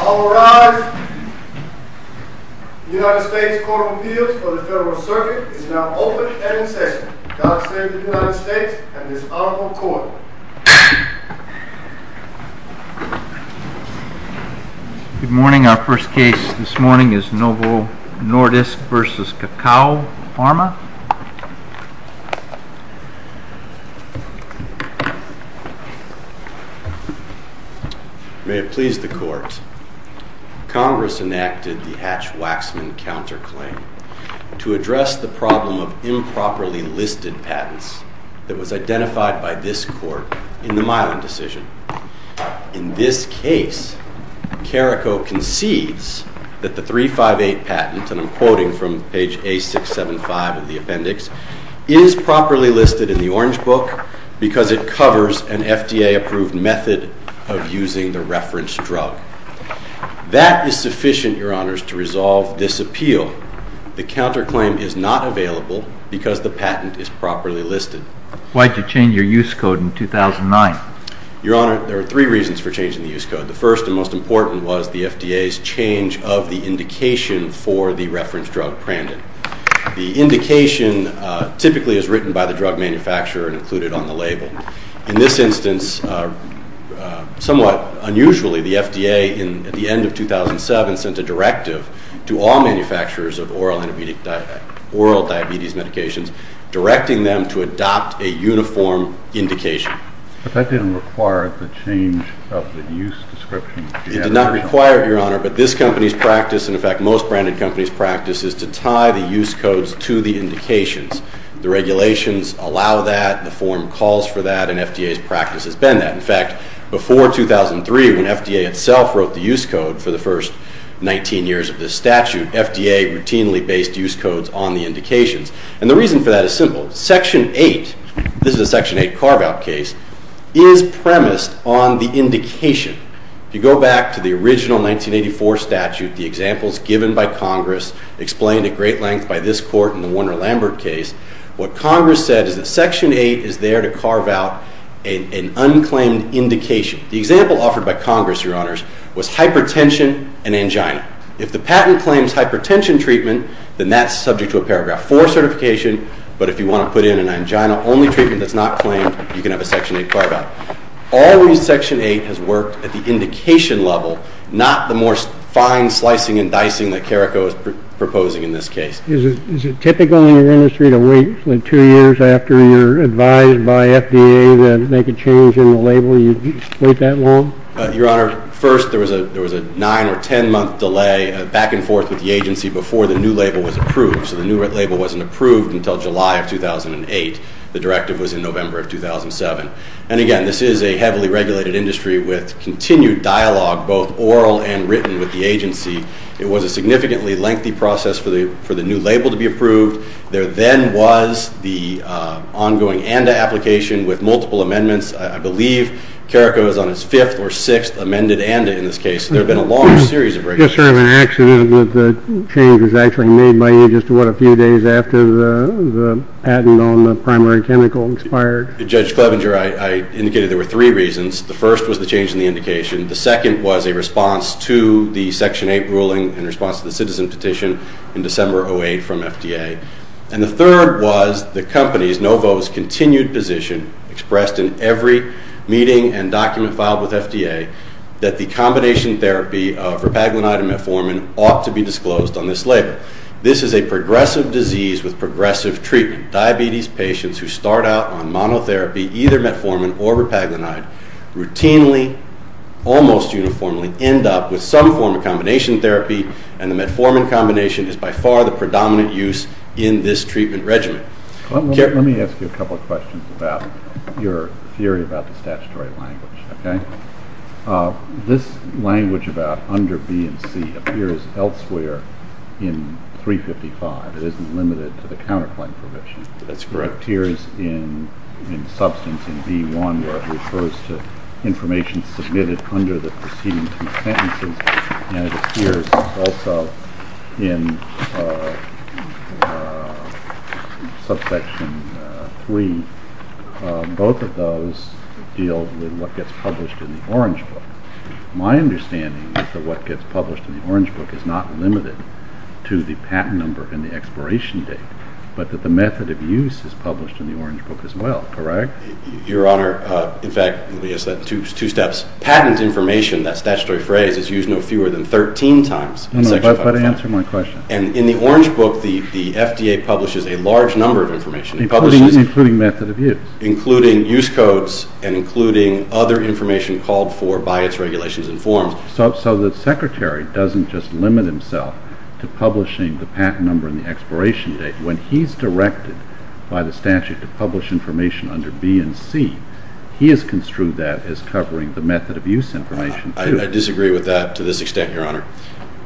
All rise. The United States Court of Appeals for the Federal Circuit is now open and in session. God save the United States and this Honorable Court. Good morning. Our first case this morning is Novo Nordisk v. Caraco Pharma. May it please the Court. Congress enacted the Hatch-Waxman counterclaim to address the problem of improperly listed patents that was identified by this Court in the Milan decision. In this case, Caraco concedes that the 358 patent, and I'm quoting from page A675 of the appendix, is properly listed in the Orange Book because it covers an FDA-approved method of using the reference drug. That is sufficient, Your Honors, to resolve this appeal. The counterclaim is not available because the patent is properly listed. Why did you change your use code in 2009? Your Honor, there are three reasons for changing the use code. The first and most important was the FDA's change of the indication for the reference drug Prandon. The indication typically is written by the drug manufacturer and included on the label. In this instance, somewhat unusually, the FDA, at the end of 2007, sent a directive to all manufacturers of oral diabetes medications directing them to adopt a uniform indication. But that didn't require the change of the use description. It did not require it, Your Honor, but this company's practice, and in fact most branded companies' practice, is to tie the use codes to the indications. The regulations allow that, the form calls for that, and FDA's practice has been that. In fact, before 2003, when FDA itself wrote the use code for the first 19 years of this statute, FDA routinely based use codes on the indications. And the reason for that is simple. Section 8, this is a Section 8 carve-out case, is premised on the indication. If you go back to the original 1984 statute, the examples given by Congress, explained at great length by this Court in the Warner-Lambert case, what Congress said is that Section 8 is there to carve out an unclaimed indication. The example offered by Congress, Your Honors, was hypertension and angina. If the patent claims hypertension treatment, then that's subject to a Paragraph 4 certification. But if you want to put in an angina-only treatment that's not claimed, you can have a Section 8 carve-out. Always Section 8 has worked at the indication level, not the more fine slicing and dicing that Carrico is proposing in this case. Is it typical in your industry to wait two years after you're advised by FDA to make a change in the label? You wait that long? Your Honor, first there was a nine or ten month delay back and forth with the agency before the new label was approved. So the new label wasn't approved until July of 2008. The directive was in November of 2007. And again, this is a heavily regulated industry with continued dialogue, both oral and written, with the agency. It was a significantly lengthy process for the new label to be approved. There then was the ongoing ANDA application with multiple amendments. I believe Carrico is on its fifth or sixth amended ANDA in this case. So there have been a long series of regulations. Just sort of an accident that the change was actually made by you just, what, a few days after the patent on the primary chemical expired? Judge Clevenger, I indicated there were three reasons. The first was the change in the indication. The second was a response to the Section 8 ruling in response to the citizen petition in December of 2008 from FDA. And the third was the company's, Novo's, continued position expressed in every meeting and document filed with FDA that the combination therapy of repaglinide and metformin ought to be disclosed on this label. This is a progressive disease with progressive treatment. Diabetes patients who start out on monotherapy, either metformin or repaglinide, routinely, almost uniformly, end up with some form of combination therapy and the metformin combination is by far the predominant use in this treatment regimen. Let me ask you a couple of questions about your theory about the statutory language, okay? This language about under B and C appears elsewhere in 355. It isn't limited to the counterclaim provision. That's correct. It appears in substance in B1 where it refers to information submitted under the preceding two sentences and it appears also in subsection 3. Both of those deal with what gets published in the Orange Book. My understanding is that what gets published in the Orange Book is not limited to the patent number and the expiration date but that the method of use is published in the Orange Book as well, correct? Your Honor, in fact, two steps. Patent information, that statutory phrase, is used no fewer than 13 times in section 355. But answer my question. And in the Orange Book, the FDA publishes a large number of information. Including method of use. Including use codes and including other information called for by its regulations and forms. So the Secretary doesn't just limit himself to publishing the patent number and the expiration date. When he's directed by the statute to publish information under B and C, he has construed that as covering the method of use information too. I disagree with that to this extent, Your Honor.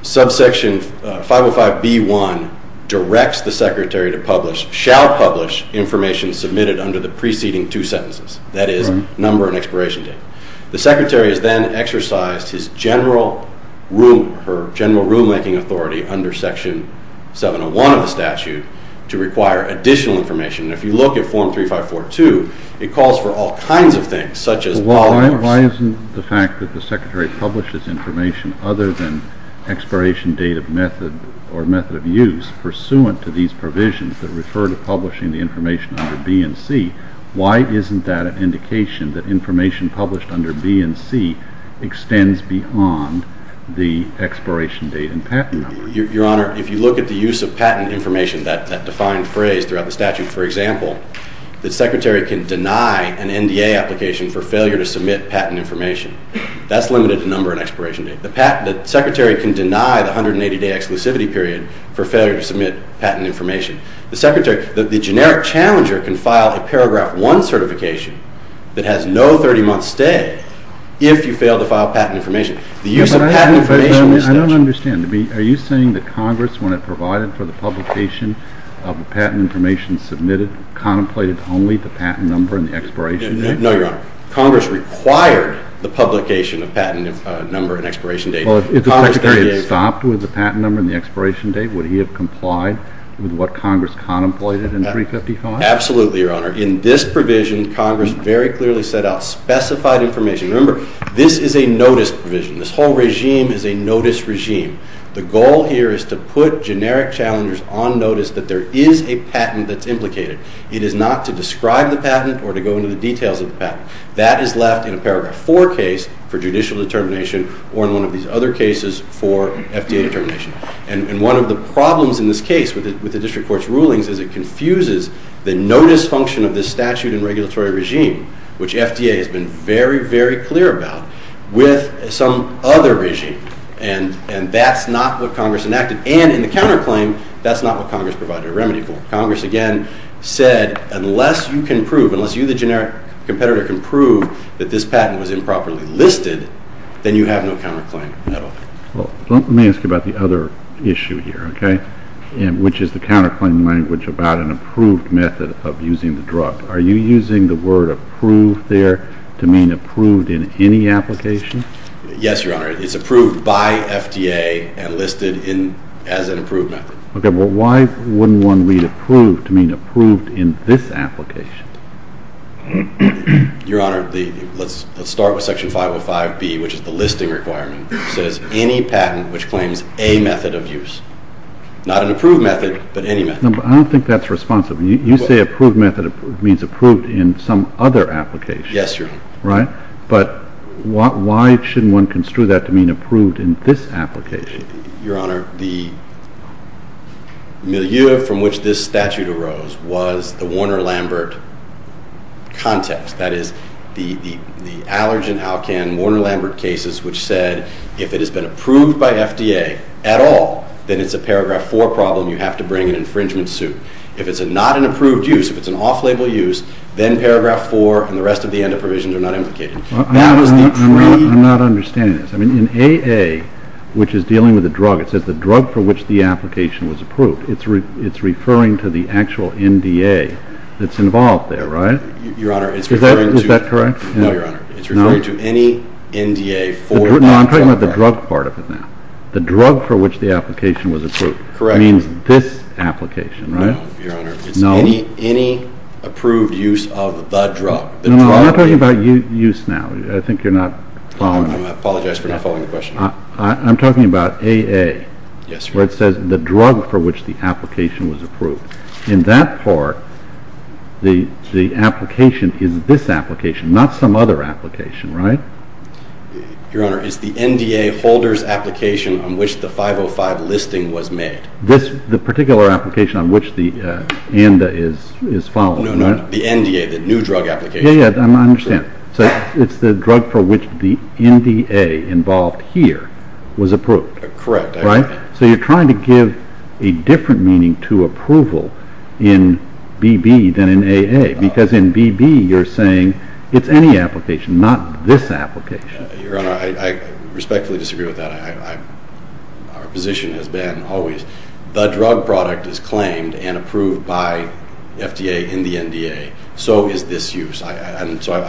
Subsection 505B1 directs the Secretary to publish, shall publish, information submitted under the preceding two sentences. That is, number and expiration date. The Secretary has then exercised his general rulemaking authority under section 701 of the statute to require additional information. And if you look at form 3542, it calls for all kinds of things such as... Well, why isn't the fact that the Secretary publishes information other than expiration date of method or method of use pursuant to these provisions that refer to publishing the information under B and C, why isn't that an indication that information published under B and C extends beyond the expiration date and patent number? Your Honor, if you look at the use of patent information, that defined phrase throughout the statute, for example, the Secretary can deny an NDA application for failure to submit patent information. That's limited to number and expiration date. The Secretary can deny the 180-day exclusivity period for failure to submit patent information. The Secretary, the generic challenger can file a paragraph 1 certification that has no 30-month stay if you fail to file patent information. The use of patent information... I don't understand. Are you saying that Congress, when it provided for the publication of the patent information submitted, contemplated only the patent number and the expiration date? No, Your Honor. Congress required the publication of patent number and expiration date. Well, if the Secretary had stopped with the patent number and the expiration date, would he have complied with what Congress contemplated in 355? Absolutely, Your Honor. In this provision, Congress very clearly set out specified information. Remember, this is a notice provision. This whole regime is a notice regime. The goal here is to put generic challengers on notice that there is a patent that's implicated. It is not to describe the patent or to go into the details of the patent. That is left in a paragraph 4 case for judicial determination or in one of these other cases for FDA determination. And one of the problems in this case with the district court's rulings is it confuses the notice function of this statute and regulatory regime, which FDA has been very, very clear about, with some other regime. And that's not what Congress enacted. And in the counterclaim, that's not what Congress provided a remedy for. Congress, again, said unless you can prove, unless you, the generic competitor, can prove that this patent was improperly listed, then you have no counterclaim at all. Well, let me ask you about the other issue here, okay, which is the counterclaim language about an approved method of using the drug. Are you using the word approved there to mean approved in any application? Yes, Your Honor. It's approved by FDA and listed as an approved method. Okay. Well, why wouldn't one read approved to mean approved in this application? Your Honor, let's start with Section 505B, which is the listing requirement. It says any patent which claims a method of use. Not an approved method, but any method. No, but I don't think that's responsive. You say approved method means approved in some other application. Yes, Your Honor. Right? But why shouldn't one construe that to mean approved in this application? Your Honor, the milieu from which this statute arose was the Warner-Lambert context. That is, the allergen alcan, Warner-Lambert cases, which said if it has been approved by FDA at all, then it's a paragraph 4 problem. You have to bring an infringement suit. If it's not an approved use, if it's an off-label use, then paragraph 4 and the rest of the end of provisions are not implicated. I'm not understanding this. In AA, which is dealing with a drug, it says the drug for which the application was approved. It's referring to the actual NDA that's involved there, right? Your Honor, it's referring to... Is that correct? No, Your Honor. It's referring to any NDA for... No, I'm talking about the drug part of it now. The drug for which the application was approved. Correct. It means this application, right? No, Your Honor. It's any approved use of the drug. No, I'm not talking about use now. I think you're not following... I apologize for not following the question. I'm talking about AA. Yes, Your Honor. Where it says the drug for which the application was approved. In that part, the application is this application, not some other application, right? Your Honor, it's the NDA holder's application on which the 505 listing was made. The particular application on which the ANDA is following, right? No, no. The NDA, the new drug application. Yeah, yeah. I understand. So it's the drug for which the NDA involved here was approved. Correct. Right? So you're trying to give a different meaning to approval in BB than in AA. Because in BB, you're saying it's any application, not this application. Your Honor, I respectfully disagree with that. Our position has been always the drug product is claimed and approved by FDA and the NDA. So is this use. I'm trying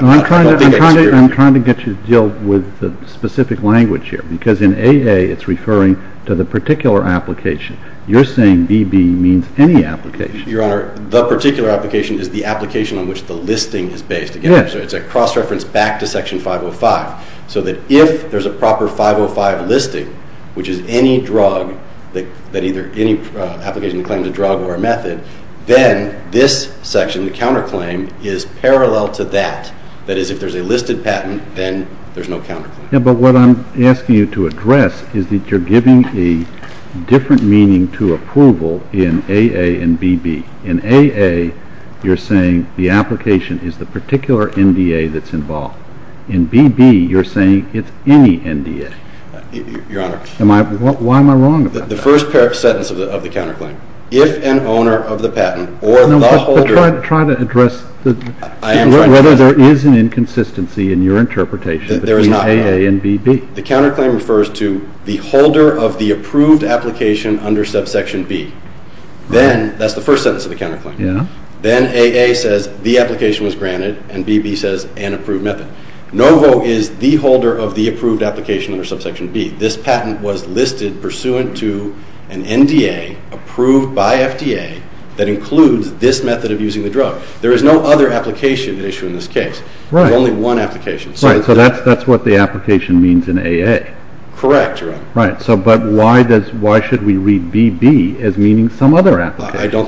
to get you to deal with the specific language here. Because in AA, it's referring to the particular application. You're saying BB means any application. Your Honor, the particular application is the application on which the listing is based. Yes. It's a cross-reference back to Section 505. So that if there's a proper 505 listing, which is any drug, that either any application claims a drug or a method, then this section, the counterclaim, is parallel to that. That is, if there's a listed patent, then there's no counterclaim. Yeah, but what I'm asking you to address is that you're giving a different meaning to approval in AA and BB. In AA, you're saying the application is the particular NDA that's involved. In BB, you're saying it's any NDA. Your Honor. Why am I wrong about that? The first sentence of the counterclaim, if an owner of the patent or the holder. Try to address whether there is an inconsistency in your interpretation between AA and BB. There is not. The counterclaim refers to the holder of the approved application under subsection B. Then, that's the first sentence of the counterclaim. Yeah. Then AA says the application was granted, and BB says an approved method. Novo is the holder of the approved application under subsection B. This patent was listed pursuant to an NDA approved by FDA that includes this method of using the drug. There is no other application at issue in this case. Right. There's only one application. Right, so that's what the application means in AA. Correct, Your Honor. Right, but why should we read BB as meaning some other application? I don't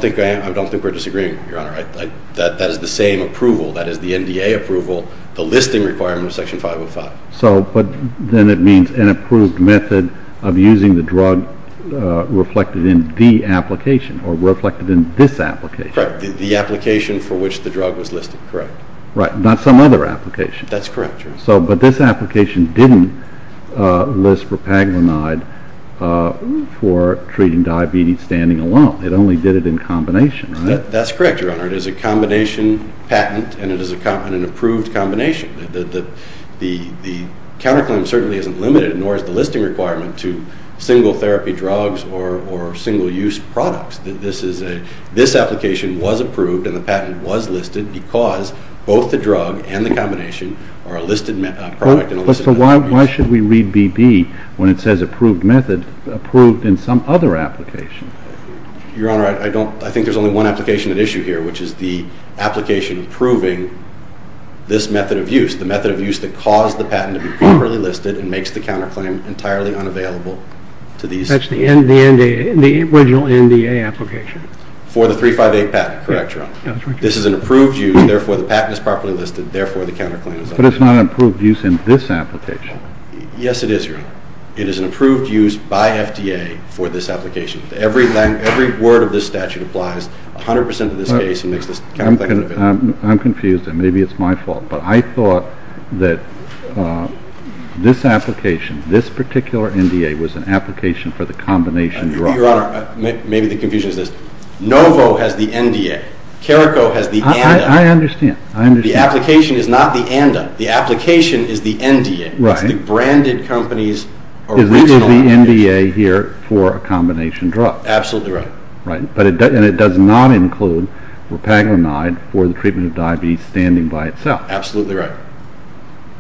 think we're disagreeing, Your Honor. That is the same approval. That is the NDA approval, the listing requirement of Section 505. But then it means an approved method of using the drug reflected in the application or reflected in this application. Correct. The application for which the drug was listed, correct. Right, not some other application. That's correct, Your Honor. But this application didn't list propaglinide for treating diabetes standing alone. It only did it in combination, right? That's correct, Your Honor. It is a combination patent and it is an approved combination. The counterclaim certainly isn't limited, nor is the listing requirement, to single therapy drugs or single use products. This application was approved and the patent was listed because both the drug and the combination are a listed product. But why should we read BB when it says approved method, approved in some other application? Your Honor, I think there's only one application at issue here, which is the application approving this method of use, the method of use that caused the patent to be properly listed and makes the counterclaim entirely unavailable to these. That's the original NDA application. For the 358 patent, correct, Your Honor. That's right, Your Honor. This is an approved use, therefore the patent is properly listed, therefore the counterclaim is unavailable. But it's not an approved use in this application. Yes, it is, Your Honor. It is an approved use by FDA for this application. Every word of this statute applies 100% to this case and makes this counterclaim unavailable. I'm confused, and maybe it's my fault. But I thought that this application, this particular NDA, was an application for the combination drug. Your Honor, maybe the confusion is this. Novo has the NDA. Careco has the ANDA. I understand. The application is not the ANDA. The application is the NDA. Right. It's the branded company's original NDA. This is the NDA here for a combination drug. Absolutely right. Right. And it does not include repaglinide for the treatment of diabetes standing by itself. Absolutely right.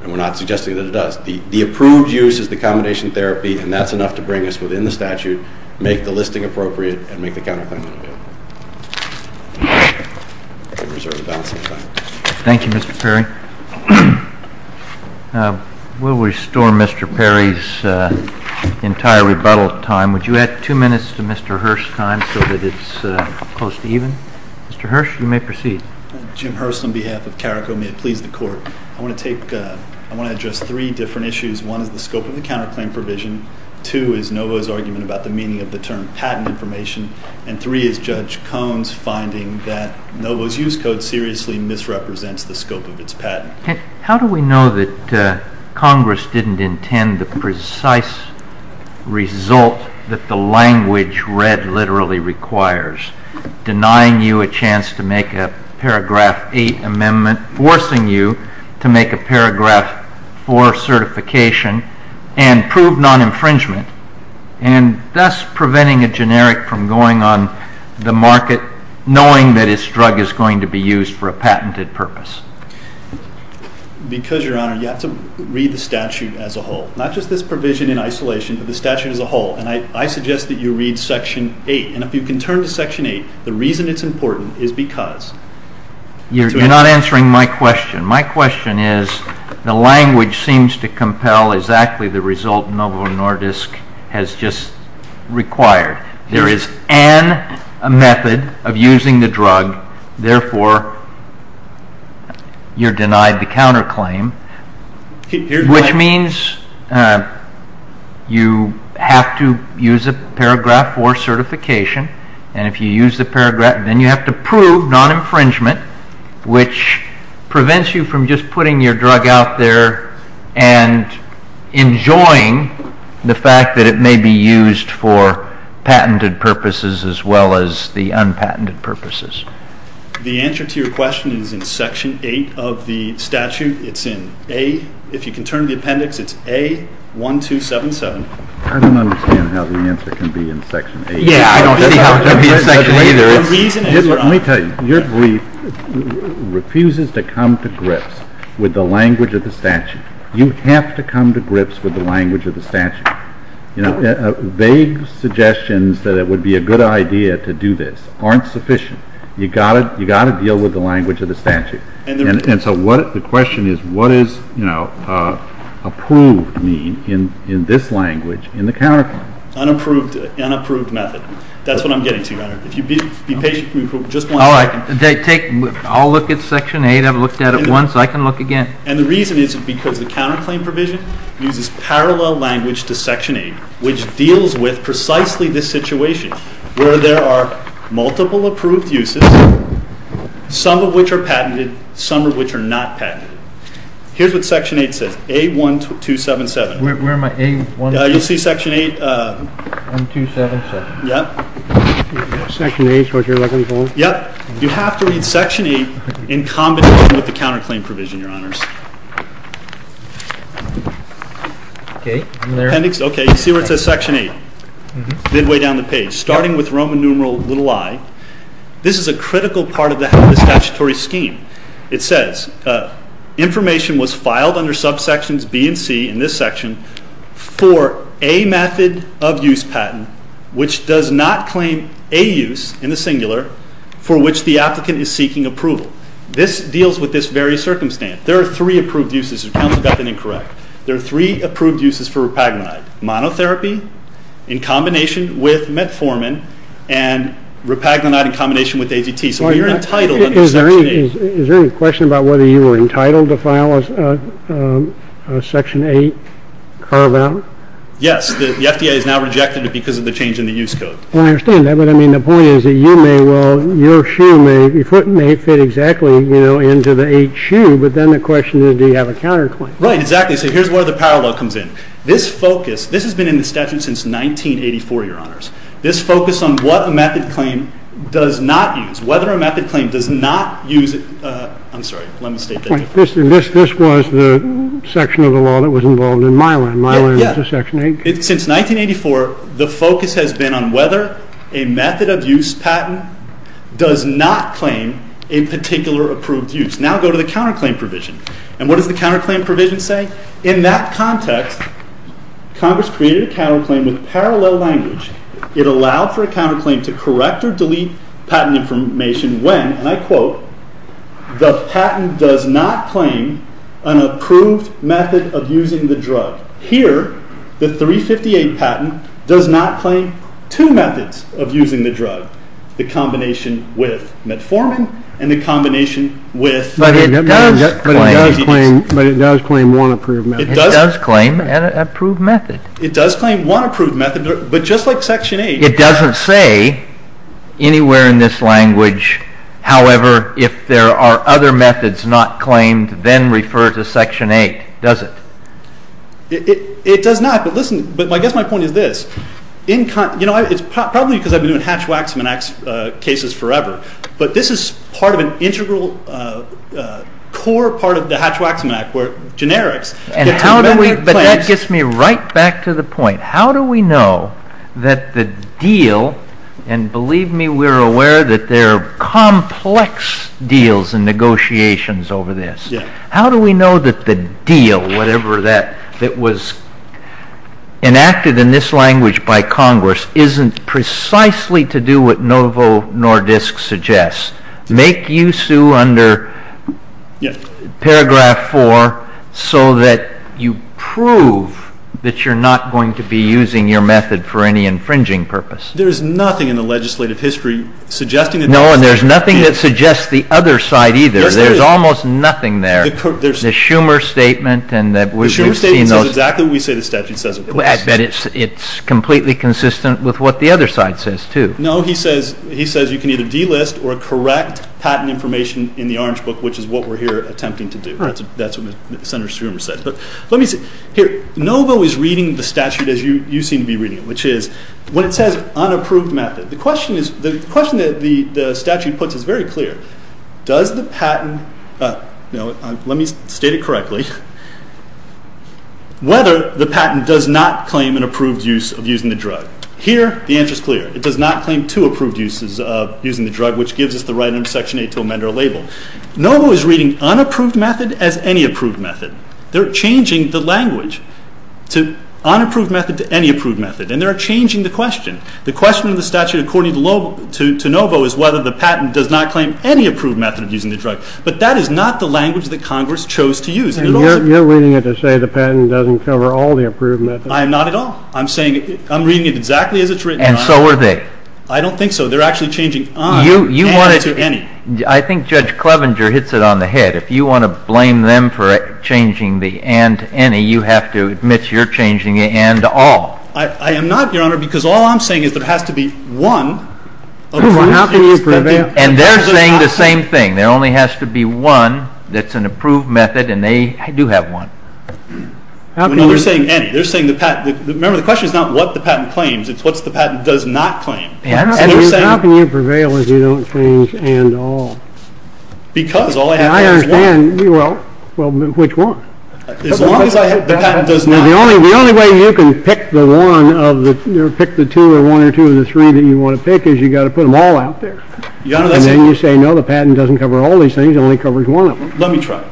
And we're not suggesting that it does. The approved use is the combination therapy, and that's enough to bring us within the statute, make the listing appropriate, and make the counterclaim unavailable. I reserve the balance of my time. Thank you, Mr. Perry. We'll restore Mr. Perry's entire rebuttal time. Would you add two minutes to Mr. Hirsch's time so that it's close to evening? Mr. Hirsch, you may proceed. Jim Hirsch on behalf of Careco. May it please the Court. I want to address three different issues. One is the scope of the counterclaim provision. Two is Novo's argument about the meaning of the term patent information. And three is Judge Cohn's finding that Novo's use code seriously misrepresents the scope of its patent. How do we know that Congress didn't intend the precise result that the language read literally requires, denying you a chance to make a paragraph 8 amendment, forcing you to make a paragraph 4 certification, and prove non-infringement, and thus preventing a generic from going on the market, knowing that its drug is going to be used for a patented purpose? Because, Your Honor, you have to read the statute as a whole. Not just this provision in isolation, but the statute as a whole. And I suggest that you read Section 8. And if you can turn to Section 8, the reason it's important is because. You're not answering my question. My question is the language seems to compel exactly the result Novo Nordisk has just required. There is an method of using the drug. Therefore, you're denied the counterclaim, which means you have to use a paragraph 4 certification. And if you use the paragraph, then you have to prove non-infringement, which prevents you from just putting your drug out there and enjoying the fact that it may be used for patented purposes as well as the unpatented purposes. The answer to your question is in Section 8 of the statute. It's in A. If you can turn to the appendix, it's A1277. I don't understand how the answer can be in Section 8. Yeah, I don't see how it can be in Section 8 either. Let me tell you, your brief refuses to come to grips with the language of the statute. You have to come to grips with the language of the statute. Vague suggestions that it would be a good idea to do this aren't sufficient. You've got to deal with the language of the statute. And so the question is what does approved mean in this language in the counterclaim? Unapproved method. That's what I'm getting to, Your Honor. If you'd be patient for just one second. I'll look at Section 8. I've looked at it once. I can look again. And the reason is because the counterclaim provision uses parallel language to Section 8, which deals with precisely this situation where there are multiple approved uses, some of which are patented, some of which are not patented. Here's what Section 8 says, A1277. Where am I? You'll see Section 8. A1277. Yep. Section 8 is what you're looking for? Yep. You have to read Section 8 in combination with the counterclaim provision, Your Honors. Okay. You see where it says Section 8? Midway down the page. Starting with Roman numeral little i. This is a critical part of the statutory scheme. It says information was filed under subsections B and C in this section for a method of use patent which does not claim a use in the singular for which the applicant is seeking approval. This deals with this very circumstance. There are three approved uses. Counsel got that incorrect. There are three approved uses for repaglinide, monotherapy in combination with metformin and repaglinide in combination with AGT. So you're entitled under Section 8. Is there any question about whether you were entitled to file a Section 8 carve out? Yes. The FDA has now rejected it because of the change in the use code. I understand that. But, I mean, the point is that you may well, your shoe may, your foot may fit exactly, you know, into the eight shoe, but then the question is do you have a counterclaim? Right. Exactly. So here's where the parallel comes in. This focus, this has been in the statute since 1984, Your Honors. This focus on what a method claim does not use, whether a method claim does not use, I'm sorry, let me state that. This was the section of the law that was involved in Mylan. Mylan was a Section 8. Since 1984, the focus has been on whether a method of use patent does not claim a particular approved use. Now go to the counterclaim provision. And what does the counterclaim provision say? In that context, Congress created a counterclaim with parallel language. It allowed for a counterclaim to correct or delete patent information when, and I quote, the patent does not claim an approved method of using the drug. Here, the 358 patent does not claim two methods of using the drug, the combination with metformin and the combination with But it does claim But it does claim one approved method. It does claim an approved method. It does claim one approved method, but just like Section 8. It doesn't say anywhere in this language, however, if there are other methods not claimed, then refer to Section 8, does it? It does not, but listen, but I guess my point is this. You know, it's probably because I've been doing Hatch-Waxman cases forever, but this is part of an integral core part of the Hatch-Waxman Act, where generics get two methods. But that gets me right back to the point. How do we know that the deal, and believe me, we're aware that there are complex deals and negotiations over this. How do we know that the deal, whatever that was enacted in this language by Congress, isn't precisely to do what Novo Nordisk suggests? Make you sue under paragraph 4 so that you prove that you're not going to be using your method for any infringing purpose. There's nothing in the legislative history suggesting that there is. No, and there's nothing that suggests the other side either. There's almost nothing there. The Schumer Statement, and we've seen those. The Schumer Statement says exactly what we say the statute says, of course. I bet it's completely consistent with what the other side says, too. No, he says you can either delist or correct patent information in the Orange Book, which is what we're here attempting to do. That's what Senator Schumer says. But let me say, here, Novo is reading the statute as you seem to be reading it, which is, when it says unapproved method, the question that the statute puts is very clear. Does the patent, let me state it correctly, whether the patent does not claim an approved use of using the drug? Here, the answer is clear. It does not claim two approved uses of using the drug, which gives us the right under Section 8 to amend our label. Novo is reading unapproved method as any approved method. They're changing the language to unapproved method to any approved method, and they're changing the question. The question of the statute according to Novo is whether the patent does not claim any approved method of using the drug. But that is not the language that Congress chose to use. And you're reading it to say the patent doesn't cover all the approved methods. I am not at all. I'm reading it exactly as it's written. And so are they. I don't think so. They're actually changing un and to any. I think Judge Clevenger hits it on the head. If you want to blame them for changing the and to any, you have to admit you're changing the and to all. I am not, Your Honor, because all I'm saying is there has to be one approved use. And they're saying the same thing. There only has to be one that's an approved method, and they do have one. No, they're saying any. They're saying the patent. Remember, the question is not what the patent claims. It's what the patent does not claim. How can you prevail if you don't change and to all? Because all I have to do is one. I understand. Well, which one? As long as the patent does not. The only way you can pick the two or one or two or the three that you want to pick is you've got to put them all out there. And then you say, no, the patent doesn't cover all these things. It only covers one of them. Let me try.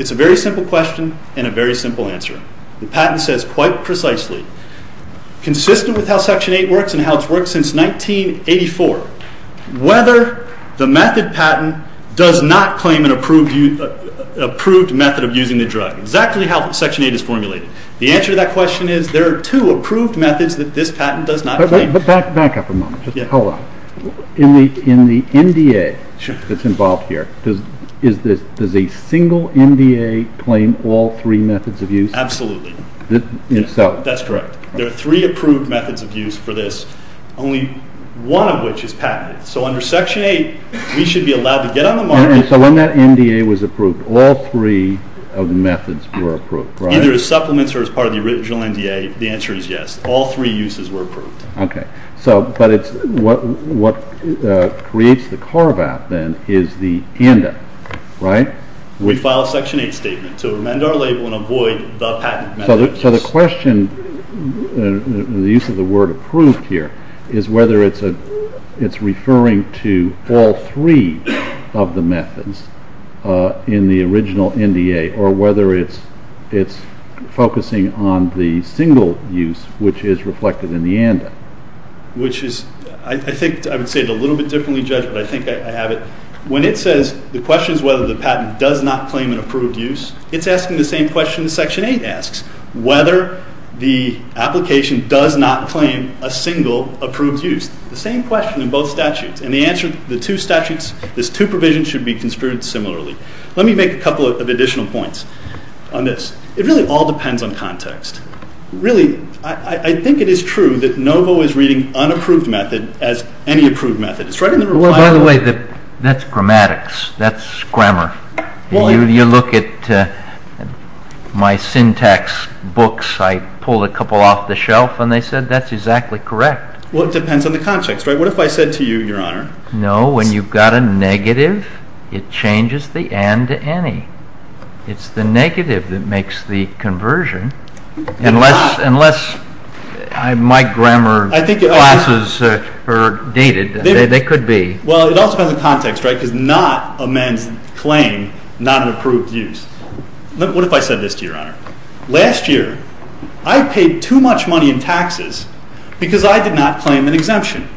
It's a very simple question and a very simple answer. The patent says quite precisely, consistent with how Section 8 works and how it's worked since 1984, whether the method patent does not claim an approved method of using the drug, exactly how Section 8 is formulated. The answer to that question is there are two approved methods that this patent does not claim. But back up a moment. Hold on. In the NDA that's involved here, does a single NDA claim all three methods of use? Absolutely. That's correct. There are three approved methods of use for this, only one of which is patented. So under Section 8, we should be allowed to get on the market. And so when that NDA was approved, all three of the methods were approved, right? Either as supplements or as part of the original NDA, the answer is yes. All three uses were approved. Okay. But what creates the carve-out then is the ANDA, right? We file a Section 8 statement to amend our label and avoid the patent method. So the question, the use of the word approved here, is whether it's referring to all three of the methods in the original NDA or whether it's focusing on the single use, which is reflected in the ANDA. I would say it a little bit differently judged, but I think I have it. When it says the question is whether the patent does not claim an approved use, it's asking the same question that Section 8 asks, whether the application does not claim a single approved use. The same question in both statutes. And the answer to the two statutes is two provisions should be construed similarly. Let me make a couple of additional points on this. It really all depends on context. Really, I think it is true that NOVO is reading unapproved method as any approved method. It's right in the requirements. Well, by the way, that's grammatics. That's grammar. You look at my syntax books. I pulled a couple off the shelf, and they said that's exactly correct. Well, it depends on the context. What if I said to you, Your Honor? No, when you've got a negative, it changes the and to any. It's the negative that makes the conversion. Unless my grammar classes are dated, they could be. Well, it also depends on context, right, because not amends claim, not an approved use. What if I said this to you, Your Honor? Last year, I paid too much money in taxes because I did not claim an exemption.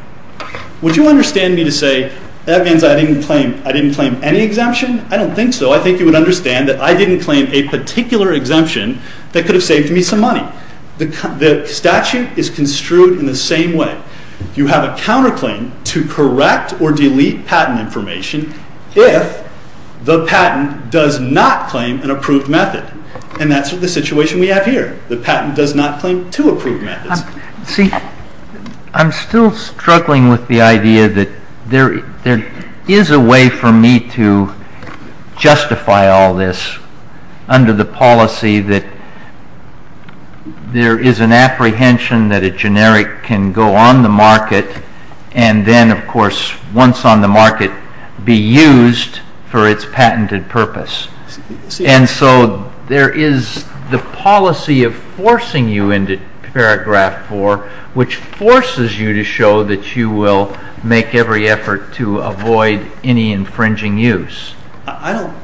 Would you understand me to say that means I didn't claim any exemption? I don't think so. I think you would understand that I didn't claim a particular exemption that could have saved me some money. The statute is construed in the same way. You have a counterclaim to correct or delete patent information if the patent does not claim an approved method. And that's the situation we have here. The patent does not claim two approved methods. I'm still struggling with the idea that there is a way for me to justify all this under the policy that there is an apprehension that a generic can go on the market and then, of course, once on the market, be used for its patented purpose. And so there is the policy of forcing you into Paragraph 4, which forces you to show that you will make every effort to avoid any infringing use. I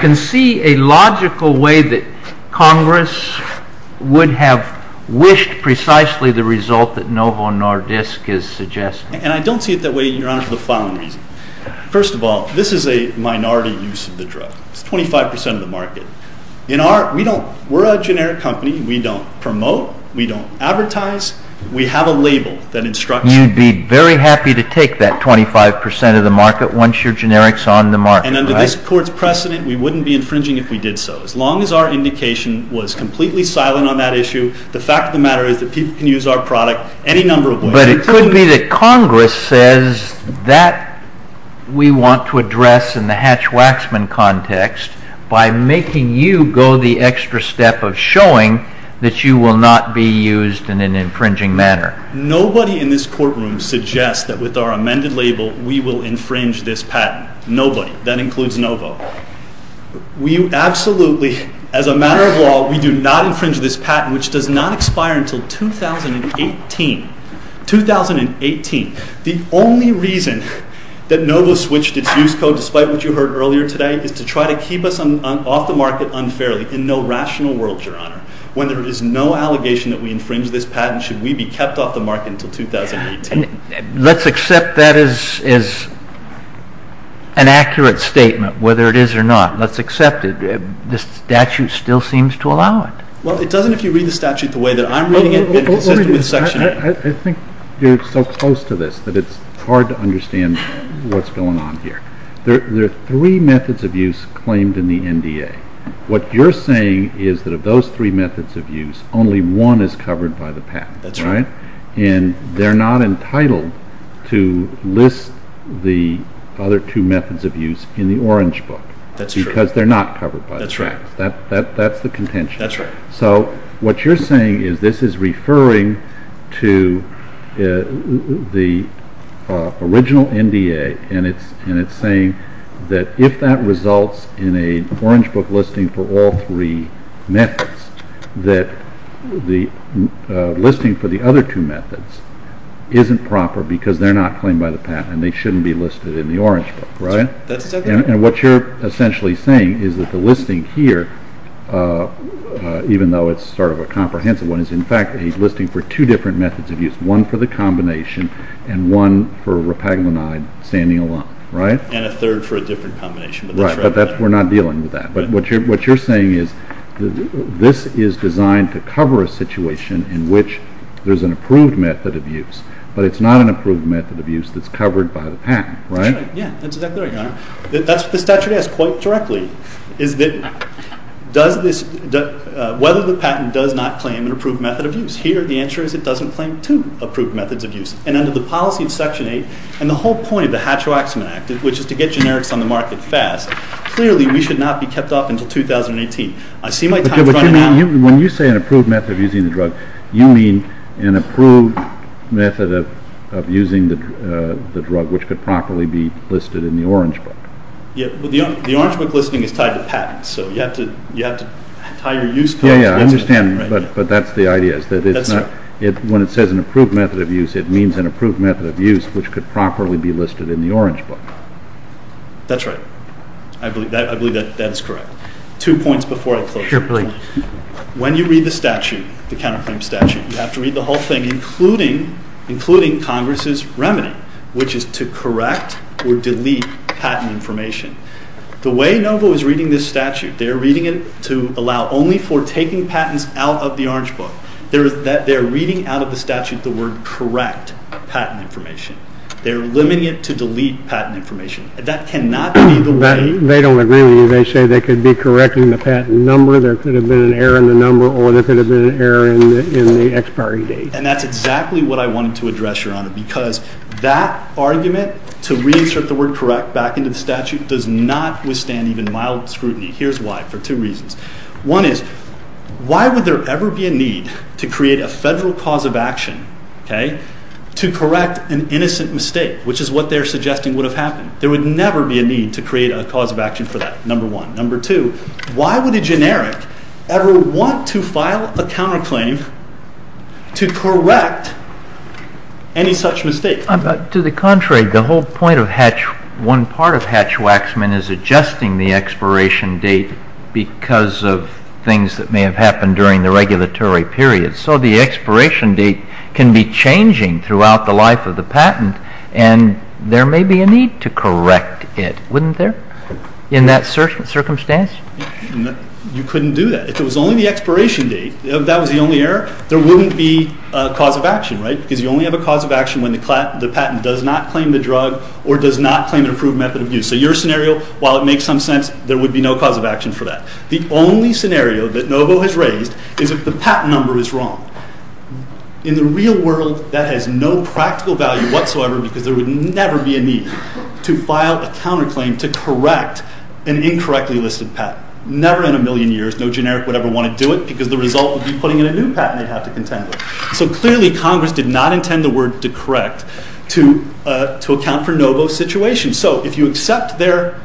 can see a logical way that Congress would have wished precisely the result that Novo Nordisk is suggesting. And I don't see it that way, Your Honor, for the following reason. First of all, this is a minority use of the drug. It's 25 percent of the market. We're a generic company. We don't promote. We don't advertise. We have a label that instructs you. You'd be very happy to take that 25 percent of the market once your generic is on the market, right? And under this Court's precedent, we wouldn't be infringing if we did so. As long as our indication was completely silent on that issue, the fact of the matter is that people can use our product any number of ways. But it could be that Congress says that we want to address in the Hatch-Waxman context by making you go the extra step of showing that you will not be used in an infringing manner. Nobody in this courtroom suggests that with our amended label we will infringe this patent. Nobody. That includes Novo. We absolutely, as a matter of law, we do not infringe this patent, which does not expire until 2018. 2018. The only reason that Novo switched its use code, despite what you heard earlier today, is to try to keep us off the market unfairly in no rational world, Your Honor, when there is no allegation that we infringe this patent should we be kept off the market until 2018. Let's accept that as an accurate statement, whether it is or not. Let's accept it. The statute still seems to allow it. Well, it doesn't if you read the statute the way that I'm reading it. I think you're so close to this that it's hard to understand what's going on here. There are three methods of use claimed in the NDA. What you're saying is that of those three methods of use, only one is covered by the patent. That's right. And they're not entitled to list the other two methods of use in the Orange Book. That's true. Because they're not covered by the patent. That's right. So what you're saying is this is referring to the original NDA, and it's saying that if that results in an Orange Book listing for all three methods, that the listing for the other two methods isn't proper because they're not claimed by the patent and they shouldn't be listed in the Orange Book, right? That's exactly right. And what you're essentially saying is that the listing here, even though it's sort of a comprehensive one, is in fact a listing for two different methods of use, one for the combination and one for rapaglionide standing alone, right? And a third for a different combination. Right, but we're not dealing with that. But what you're saying is this is designed to cover a situation in which there's an approved method of use, but it's not an approved method of use that's covered by the patent, right? That's right. Yeah, that's exactly right, Your Honor. That's what the statute asks quite directly, is whether the patent does not claim an approved method of use. Here the answer is it doesn't claim two approved methods of use. And under the policy of Section 8 and the whole point of the Hatch-Waxman Act, which is to get generics on the market fast, clearly we should not be kept off until 2018. I see my time is running out. When you say an approved method of using the drug, you mean an approved method of using the drug, which could properly be listed in the Orange Book. Yeah, well, the Orange Book listing is tied to patents, so you have to tie your use codes. Yeah, yeah, I understand, but that's the idea, is that when it says an approved method of use, it means an approved method of use which could properly be listed in the Orange Book. That's right. I believe that is correct. Two points before I close. Sure, please. When you read the statute, the counterclaim statute, you have to read the whole thing, including Congress's remedy, which is to correct or delete patent information. The way NOVA was reading this statute, they're reading it to allow only for taking patents out of the Orange Book. They're reading out of the statute the word correct patent information. They're limiting it to delete patent information. That cannot be the way— They don't agree with you. They say they could be correcting the patent number, there could have been an error in the number, or there could have been an error in the expiry date. And that's exactly what I wanted to address, Your Honor, because that argument to reinsert the word correct back into the statute does not withstand even mild scrutiny. Here's why, for two reasons. One is, why would there ever be a need to create a federal cause of action to correct an innocent mistake, which is what they're suggesting would have happened? There would never be a need to create a cause of action for that, number one. Number two, why would a generic ever want to file a counterclaim to correct any such mistake? To the contrary, the whole point of Hatch—one part of Hatch-Waxman is adjusting the expiration date because of things that may have happened during the regulatory period. So the expiration date can be changing throughout the life of the patent, and there may be a need to correct it, wouldn't there, in that circumstance? You couldn't do that. If it was only the expiration date, if that was the only error, there wouldn't be a cause of action, right? Because you only have a cause of action when the patent does not claim the drug or does not claim an approved method of use. So your scenario, while it makes some sense, there would be no cause of action for that. The only scenario that Novo has raised is if the patent number is wrong. In the real world, that has no practical value whatsoever because there would never be a need to file a counterclaim to correct an incorrectly listed patent. Never in a million years, no generic would ever want to do it because the result would be putting in a new patent they'd have to contend with. So clearly Congress did not intend the word to correct to account for Novo's situation. So if you accept their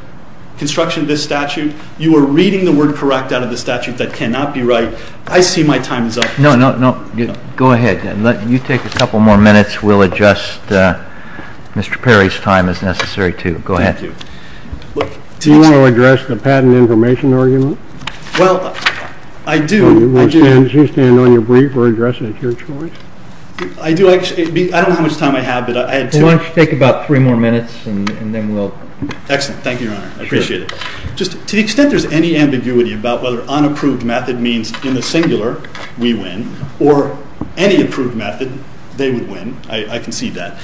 construction of this statute, you are reading the word correct out of the statute that cannot be right. I see my time is up. No, no, no. Go ahead. You take a couple more minutes. We'll adjust Mr. Perry's time as necessary to. Go ahead. Thank you. Do you want to address the patent information argument? Well, I do. Do you stand on your brief or address it at your choice? I do. I don't know how much time I have. Why don't you take about three more minutes and then we'll... Excellent. Thank you, Your Honor. I appreciate it. Just to the extent there's any ambiguity about whether unapproved method means in the singular, we win, or any approved method, they would win. I can see that.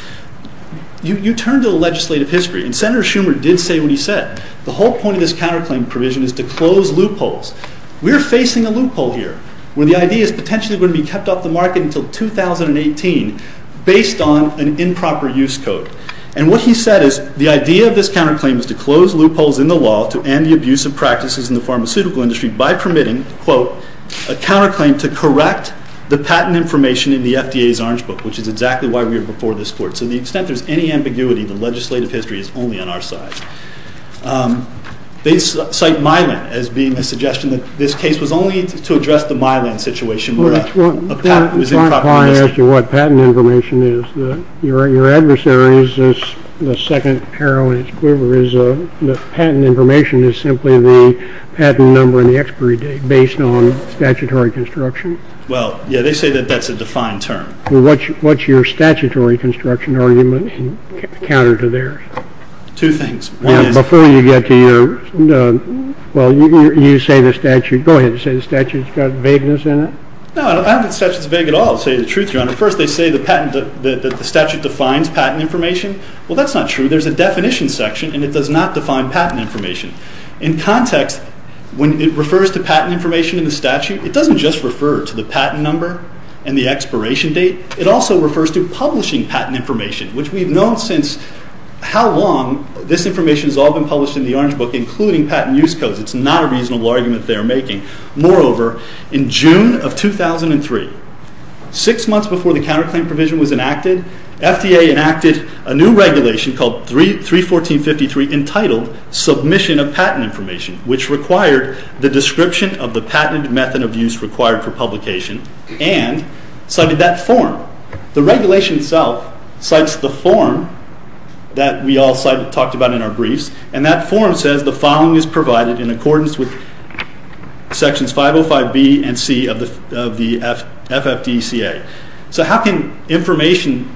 You turn to the legislative history, and Senator Schumer did say what he said. The whole point of this counterclaim provision is to close loopholes. We're facing a loophole here where the idea is potentially going to be kept off the market until 2018 based on an improper use code. And what he said is the idea of this counterclaim is to close loopholes in the law to end the abuse of practices in the pharmaceutical industry by permitting, quote, a counterclaim to correct the patent information in the FDA's orange book, which is exactly why we are before this court. To the extent there's any ambiguity, the legislative history is only on our side. They cite Mylan as being a suggestion that this case was only to address the Mylan situation. Well, that's why I asked you what patent information is. Your adversary is the second hero in its quiver. The patent information is simply the patent number and the expiry date based on statutory construction. Well, yeah, they say that that's a defined term. Well, what's your statutory construction argument counter to theirs? Two things. Before you get to your, well, you say the statute. Go ahead and say the statute's got vagueness in it. No, I don't think the statute's vague at all, to tell you the truth, Your Honor. First, they say the statute defines patent information. Well, that's not true. There's a definition section, and it does not define patent information. In context, when it refers to patent information in the statute, it doesn't just refer to the patent number and the expiration date. It also refers to publishing patent information, which we've known since how long this information has all been published in the Orange Book, including patent use codes. It's not a reasonable argument they're making. Moreover, in June of 2003, six months before the counterclaim provision was enacted, FDA enacted a new regulation called 314.53 entitled Submission of Patent Information, which required the description of the patented method of use required for publication and cited that form. The regulation itself cites the form that we all talked about in our briefs, and that form says the following is provided in accordance with Sections 505B and C of the FFDCA. So how can information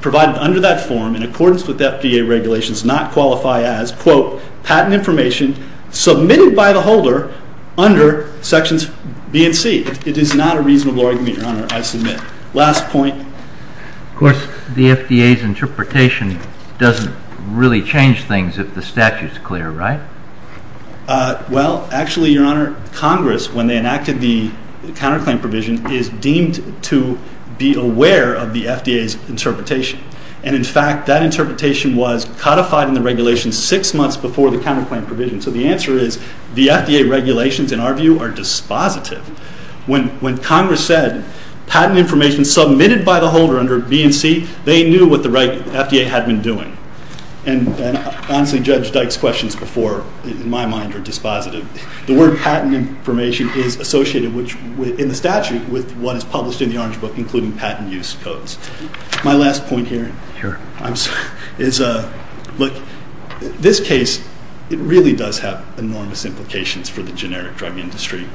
provided under that form in accordance with FDA regulations not qualify as, quote, patent information submitted by the holder under Sections B and C? It is not a reasonable argument, Your Honor, I submit. Last point. Of course, the FDA's interpretation doesn't really change things if the statute is clear, right? Well, actually, Your Honor, Congress, when they enacted the counterclaim provision, is deemed to be aware of the FDA's interpretation. And in fact, that interpretation was codified in the regulation six months before the counterclaim provision. So the answer is the FDA regulations, in our view, are dispositive. When Congress said patent information submitted by the holder under B and C, they knew what the right FDA had been doing. And honestly, Judge Dyke's questions before, in my mind, are dispositive. The word patent information is associated in the statute with what is published in the Orange Book, including patent use codes. My last point here is, look, this case, it really does have enormous implications for the generic drug industry.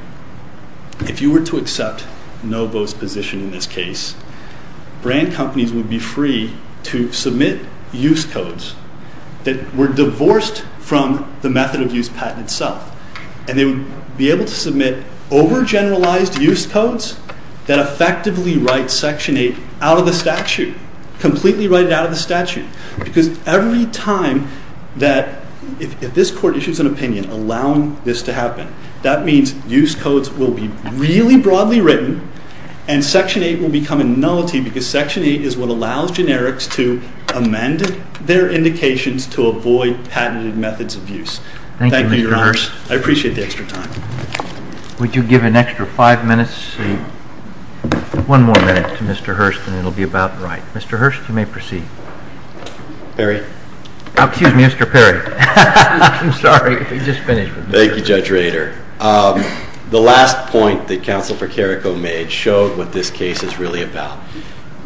If you were to accept Novo's position in this case, brand companies would be free to submit use codes that were divorced from the method of use patent itself. And they would be able to submit over-generalized use codes that effectively write Section 8 out of the statute, completely write it out of the statute. Because every time that, if this Court issues an opinion allowing this to happen, that means use codes will be really broadly written, and Section 8 will become a nullity because Section 8 is what allows generics to amend their indications to avoid patented methods of use. Thank you, Your Honor. I appreciate the extra time. Would you give an extra five minutes? One more minute to Mr. Hurst, and it will be about right. Mr. Hurst, you may proceed. Perry. Excuse me, Mr. Perry. I'm sorry. You just finished. Thank you, Judge Rader. The last point that Counsel for Carrico made showed what this case is really about.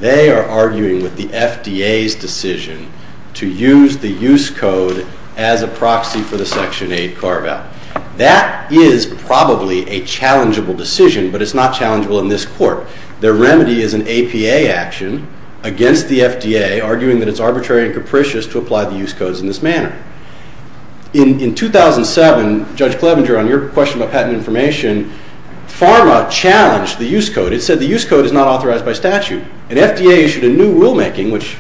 They are arguing with the FDA's decision to use the use code as a proxy for the Section 8 carve-out. That is probably a challengeable decision, but it's not challengeable in this Court. Their remedy is an APA action against the FDA, arguing that it's arbitrary and capricious to apply the use codes in this manner. In 2007, Judge Clevenger, on your question about patent information, PhRMA challenged the use code. It said the use code is not authorized by statute. And FDA issued a new rulemaking, which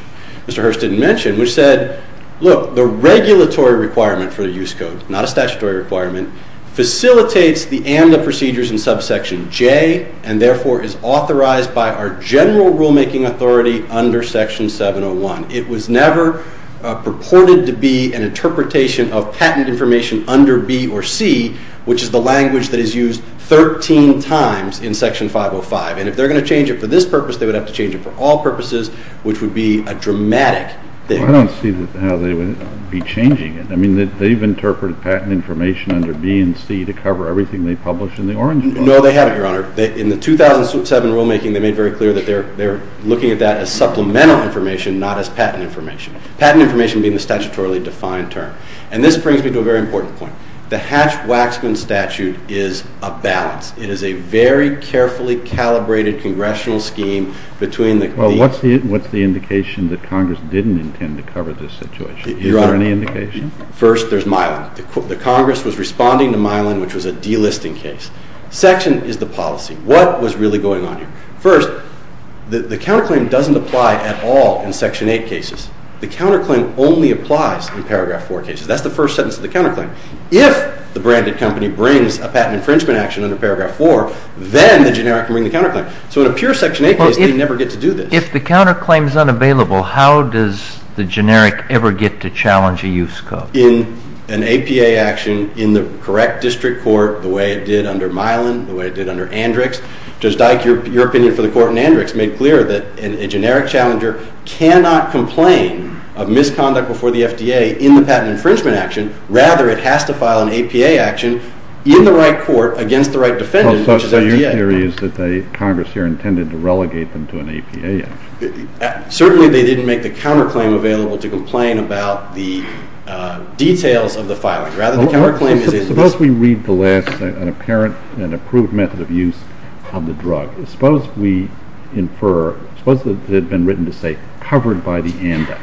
Mr. Hurst didn't mention, which said, look, the regulatory requirement for the use code, not a statutory requirement, facilitates the ANDA procedures in Subsection J and therefore is authorized by our general rulemaking authority under Section 701. It was never purported to be an interpretation of patent information under B or C, which is the language that is used 13 times in Section 505. And if they're going to change it for this purpose, they would have to change it for all purposes, which would be a dramatic thing. I don't see how they would be changing it. I mean, they've interpreted patent information under B and C to cover everything they publish in the Orange Clause. No, they haven't, Your Honor. In the 2007 rulemaking, they made very clear that they're looking at that as supplemental information, not as patent information, patent information being the statutorily defined term. And this brings me to a very important point. The Hatch-Waxman statute is a balance. It is a very carefully calibrated congressional scheme between the… Well, what's the indication that Congress didn't intend to cover this situation? Is there any indication? First, there's Mylan. The Congress was responding to Mylan, which was a delisting case. Section is the policy. What was really going on here? First, the counterclaim doesn't apply at all in Section 8 cases. The counterclaim only applies in Paragraph 4 cases. That's the first sentence of the counterclaim. If the branded company brings a patent infringement action under Paragraph 4, then the generic can bring the counterclaim. So in a pure Section 8 case, they never get to do this. If the counterclaim is unavailable, how does the generic ever get to challenge a use code? In an APA action, in the correct district court, the way it did under Mylan, the way it did under Andrix, Judge Dyke, your opinion for the court in Andrix made clear that a generic challenger cannot complain of misconduct before the FDA in the patent infringement action. Rather, it has to file an APA action in the right court against the right defendant, which is FDA. So your theory is that Congress here intended to relegate them to an APA action. Certainly they didn't make the counterclaim available to complain about the details of the filing. Rather, the counterclaim is in this. Suppose we read the last, an apparent and approved method of use of the drug. Suppose we infer, suppose that it had been written to say, covered by the ANDA.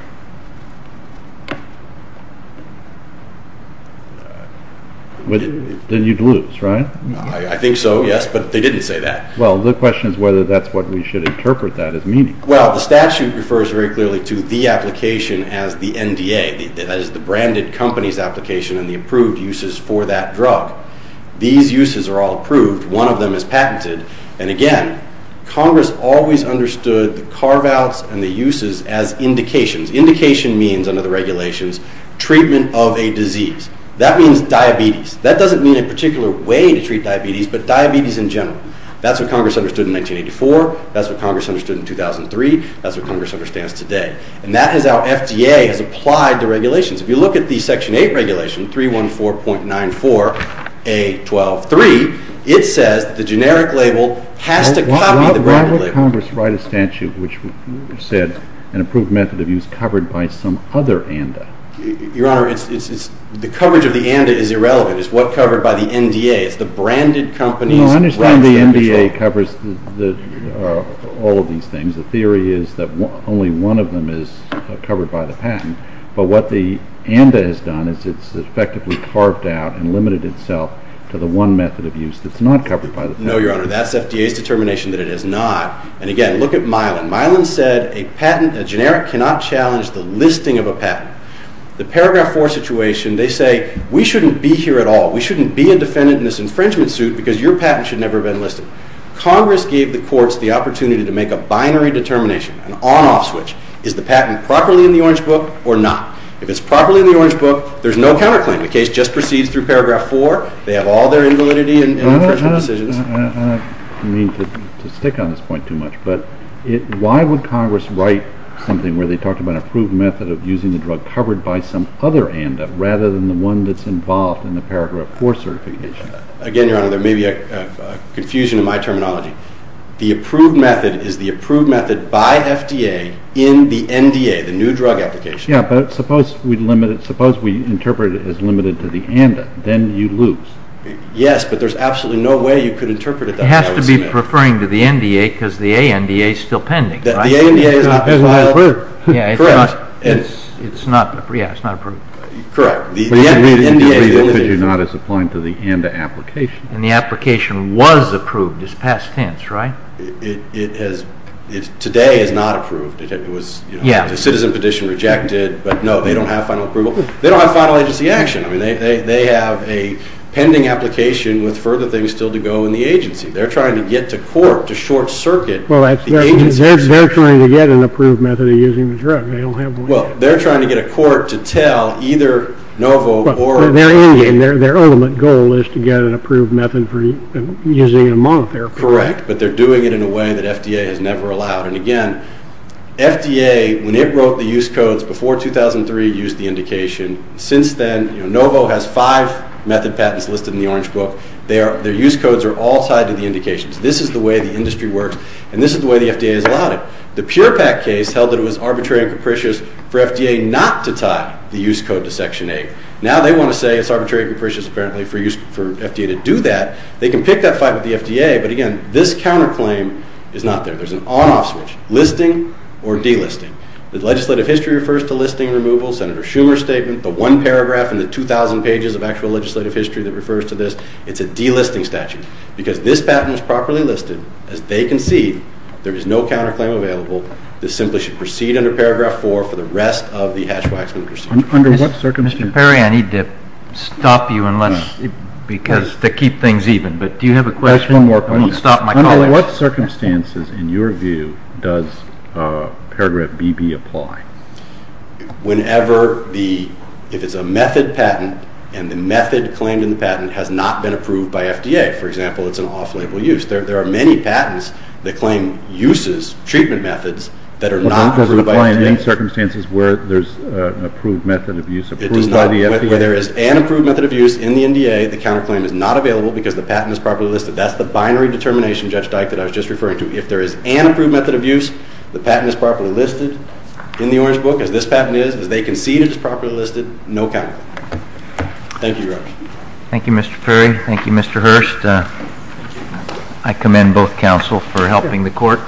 Then you'd lose, right? I think so, yes, but they didn't say that. Well, the question is whether that's what we should interpret that as meaning. Well, the statute refers very clearly to the application as the NDA. That is, the branded company's application and the approved uses for that drug. These uses are all approved. One of them is patented. And again, Congress always understood the carve-outs and the uses as indications. Indication means, under the regulations, treatment of a disease. That means diabetes. That doesn't mean a particular way to treat diabetes, but diabetes in general. That's what Congress understood in 1984. That's what Congress understood in 2003. That's what Congress understands today. And that is how FDA has applied the regulations. If you look at the Section 8 regulation, 314.94A.12.3, it says that the generic label has to copy the branded label. Why would Congress write a statute which said an approved method of use covered by some other ANDA? Your Honor, the coverage of the ANDA is irrelevant. It's what's covered by the NDA. It's the branded company's rights. No, I understand the NDA covers all of these things. The theory is that only one of them is covered by the patent. But what the ANDA has done is it's effectively carved out and limited itself to the one method of use that's not covered by the patent. No, Your Honor, that's FDA's determination that it is not. And again, look at Milan. Milan said a patent, a generic, cannot challenge the listing of a patent. The Paragraph 4 situation, they say we shouldn't be here at all. We shouldn't be a defendant in this infringement suit because your patent should never have been listed. Congress gave the courts the opportunity to make a binary determination, an on-off switch. Is the patent properly in the Orange Book or not? If it's properly in the Orange Book, there's no counterclaim. The case just proceeds through Paragraph 4. They have all their invalidity and infringement decisions. I don't mean to stick on this point too much, but why would Congress write something where they talked about an approved method of using the drug covered by some other ANDA rather than the one that's involved in the Paragraph 4 certification? Again, Your Honor, there may be a confusion in my terminology. The approved method is the approved method by FDA in the NDA, the new drug application. Yeah, but suppose we interpret it as limited to the ANDA. Then you lose. Yes, but there's absolutely no way you could interpret it that way. It has to be referring to the NDA because the ANDA is still pending. The ANDA is not approved. Correct. Yeah, it's not approved. Correct. But the NDA is not as applying to the ANDA application. And the application was approved. It's past tense, right? It today is not approved. The citizen petition rejected, but no, they don't have final approval. They don't have final agency action. I mean, they have a pending application with further things still to go in the agency. They're trying to get to court to short-circuit the agency. Well, they're trying to get an approved method of using the drug. They don't have one yet. Well, they're trying to get a court to tell either NOVO or the ANDA. Their ultimate goal is to get an approved method for using in a monotherapy. Correct, but they're doing it in a way that FDA has never allowed. And, again, FDA, when it wrote the use codes before 2003, used the indication. Since then, NOVO has five method patents listed in the orange book. Their use codes are all tied to the indications. This is the way the industry works, and this is the way the FDA has allowed it. The PurePak case held that it was arbitrary and capricious for FDA not to tie the use code to Section 8. Now they want to say it's arbitrary and capricious, apparently, for FDA to do that. They can pick that fight with the FDA, but, again, this counterclaim is not there. There's an on-off switch, listing or delisting. The legislative history refers to listing removal. Senator Schumer's statement, the one paragraph in the 2,000 pages of actual legislative history that refers to this, it's a delisting statute because this patent was properly listed. As they concede, there is no counterclaim available. This simply should proceed under Paragraph 4 for the rest of the Hatch-Waxman procedure. Mr. Perry, I need to stop you to keep things even, but do you have a question? I won't stop my colleagues. Under what circumstances, in your view, does Paragraph BB apply? If it's a method patent and the method claimed in the patent has not been approved by FDA, for example, it's an off-label use, there are many patents that claim uses, treatment methods, that are not approved by the FDA. Does it apply in any circumstances where there's an approved method of use approved by the FDA? It does not. Where there is an approved method of use in the NDA, the counterclaim is not available because the patent is properly listed. So that's the binary determination, Judge Dyke, that I was just referring to. If there is an approved method of use, the patent is properly listed in the Orange Book, as this patent is. As they concede, it's properly listed, no counterclaim. Thank you, Your Honor. Thank you, Mr. Perry. Thank you, Mr. Hurst. I commend both counsel for helping the court.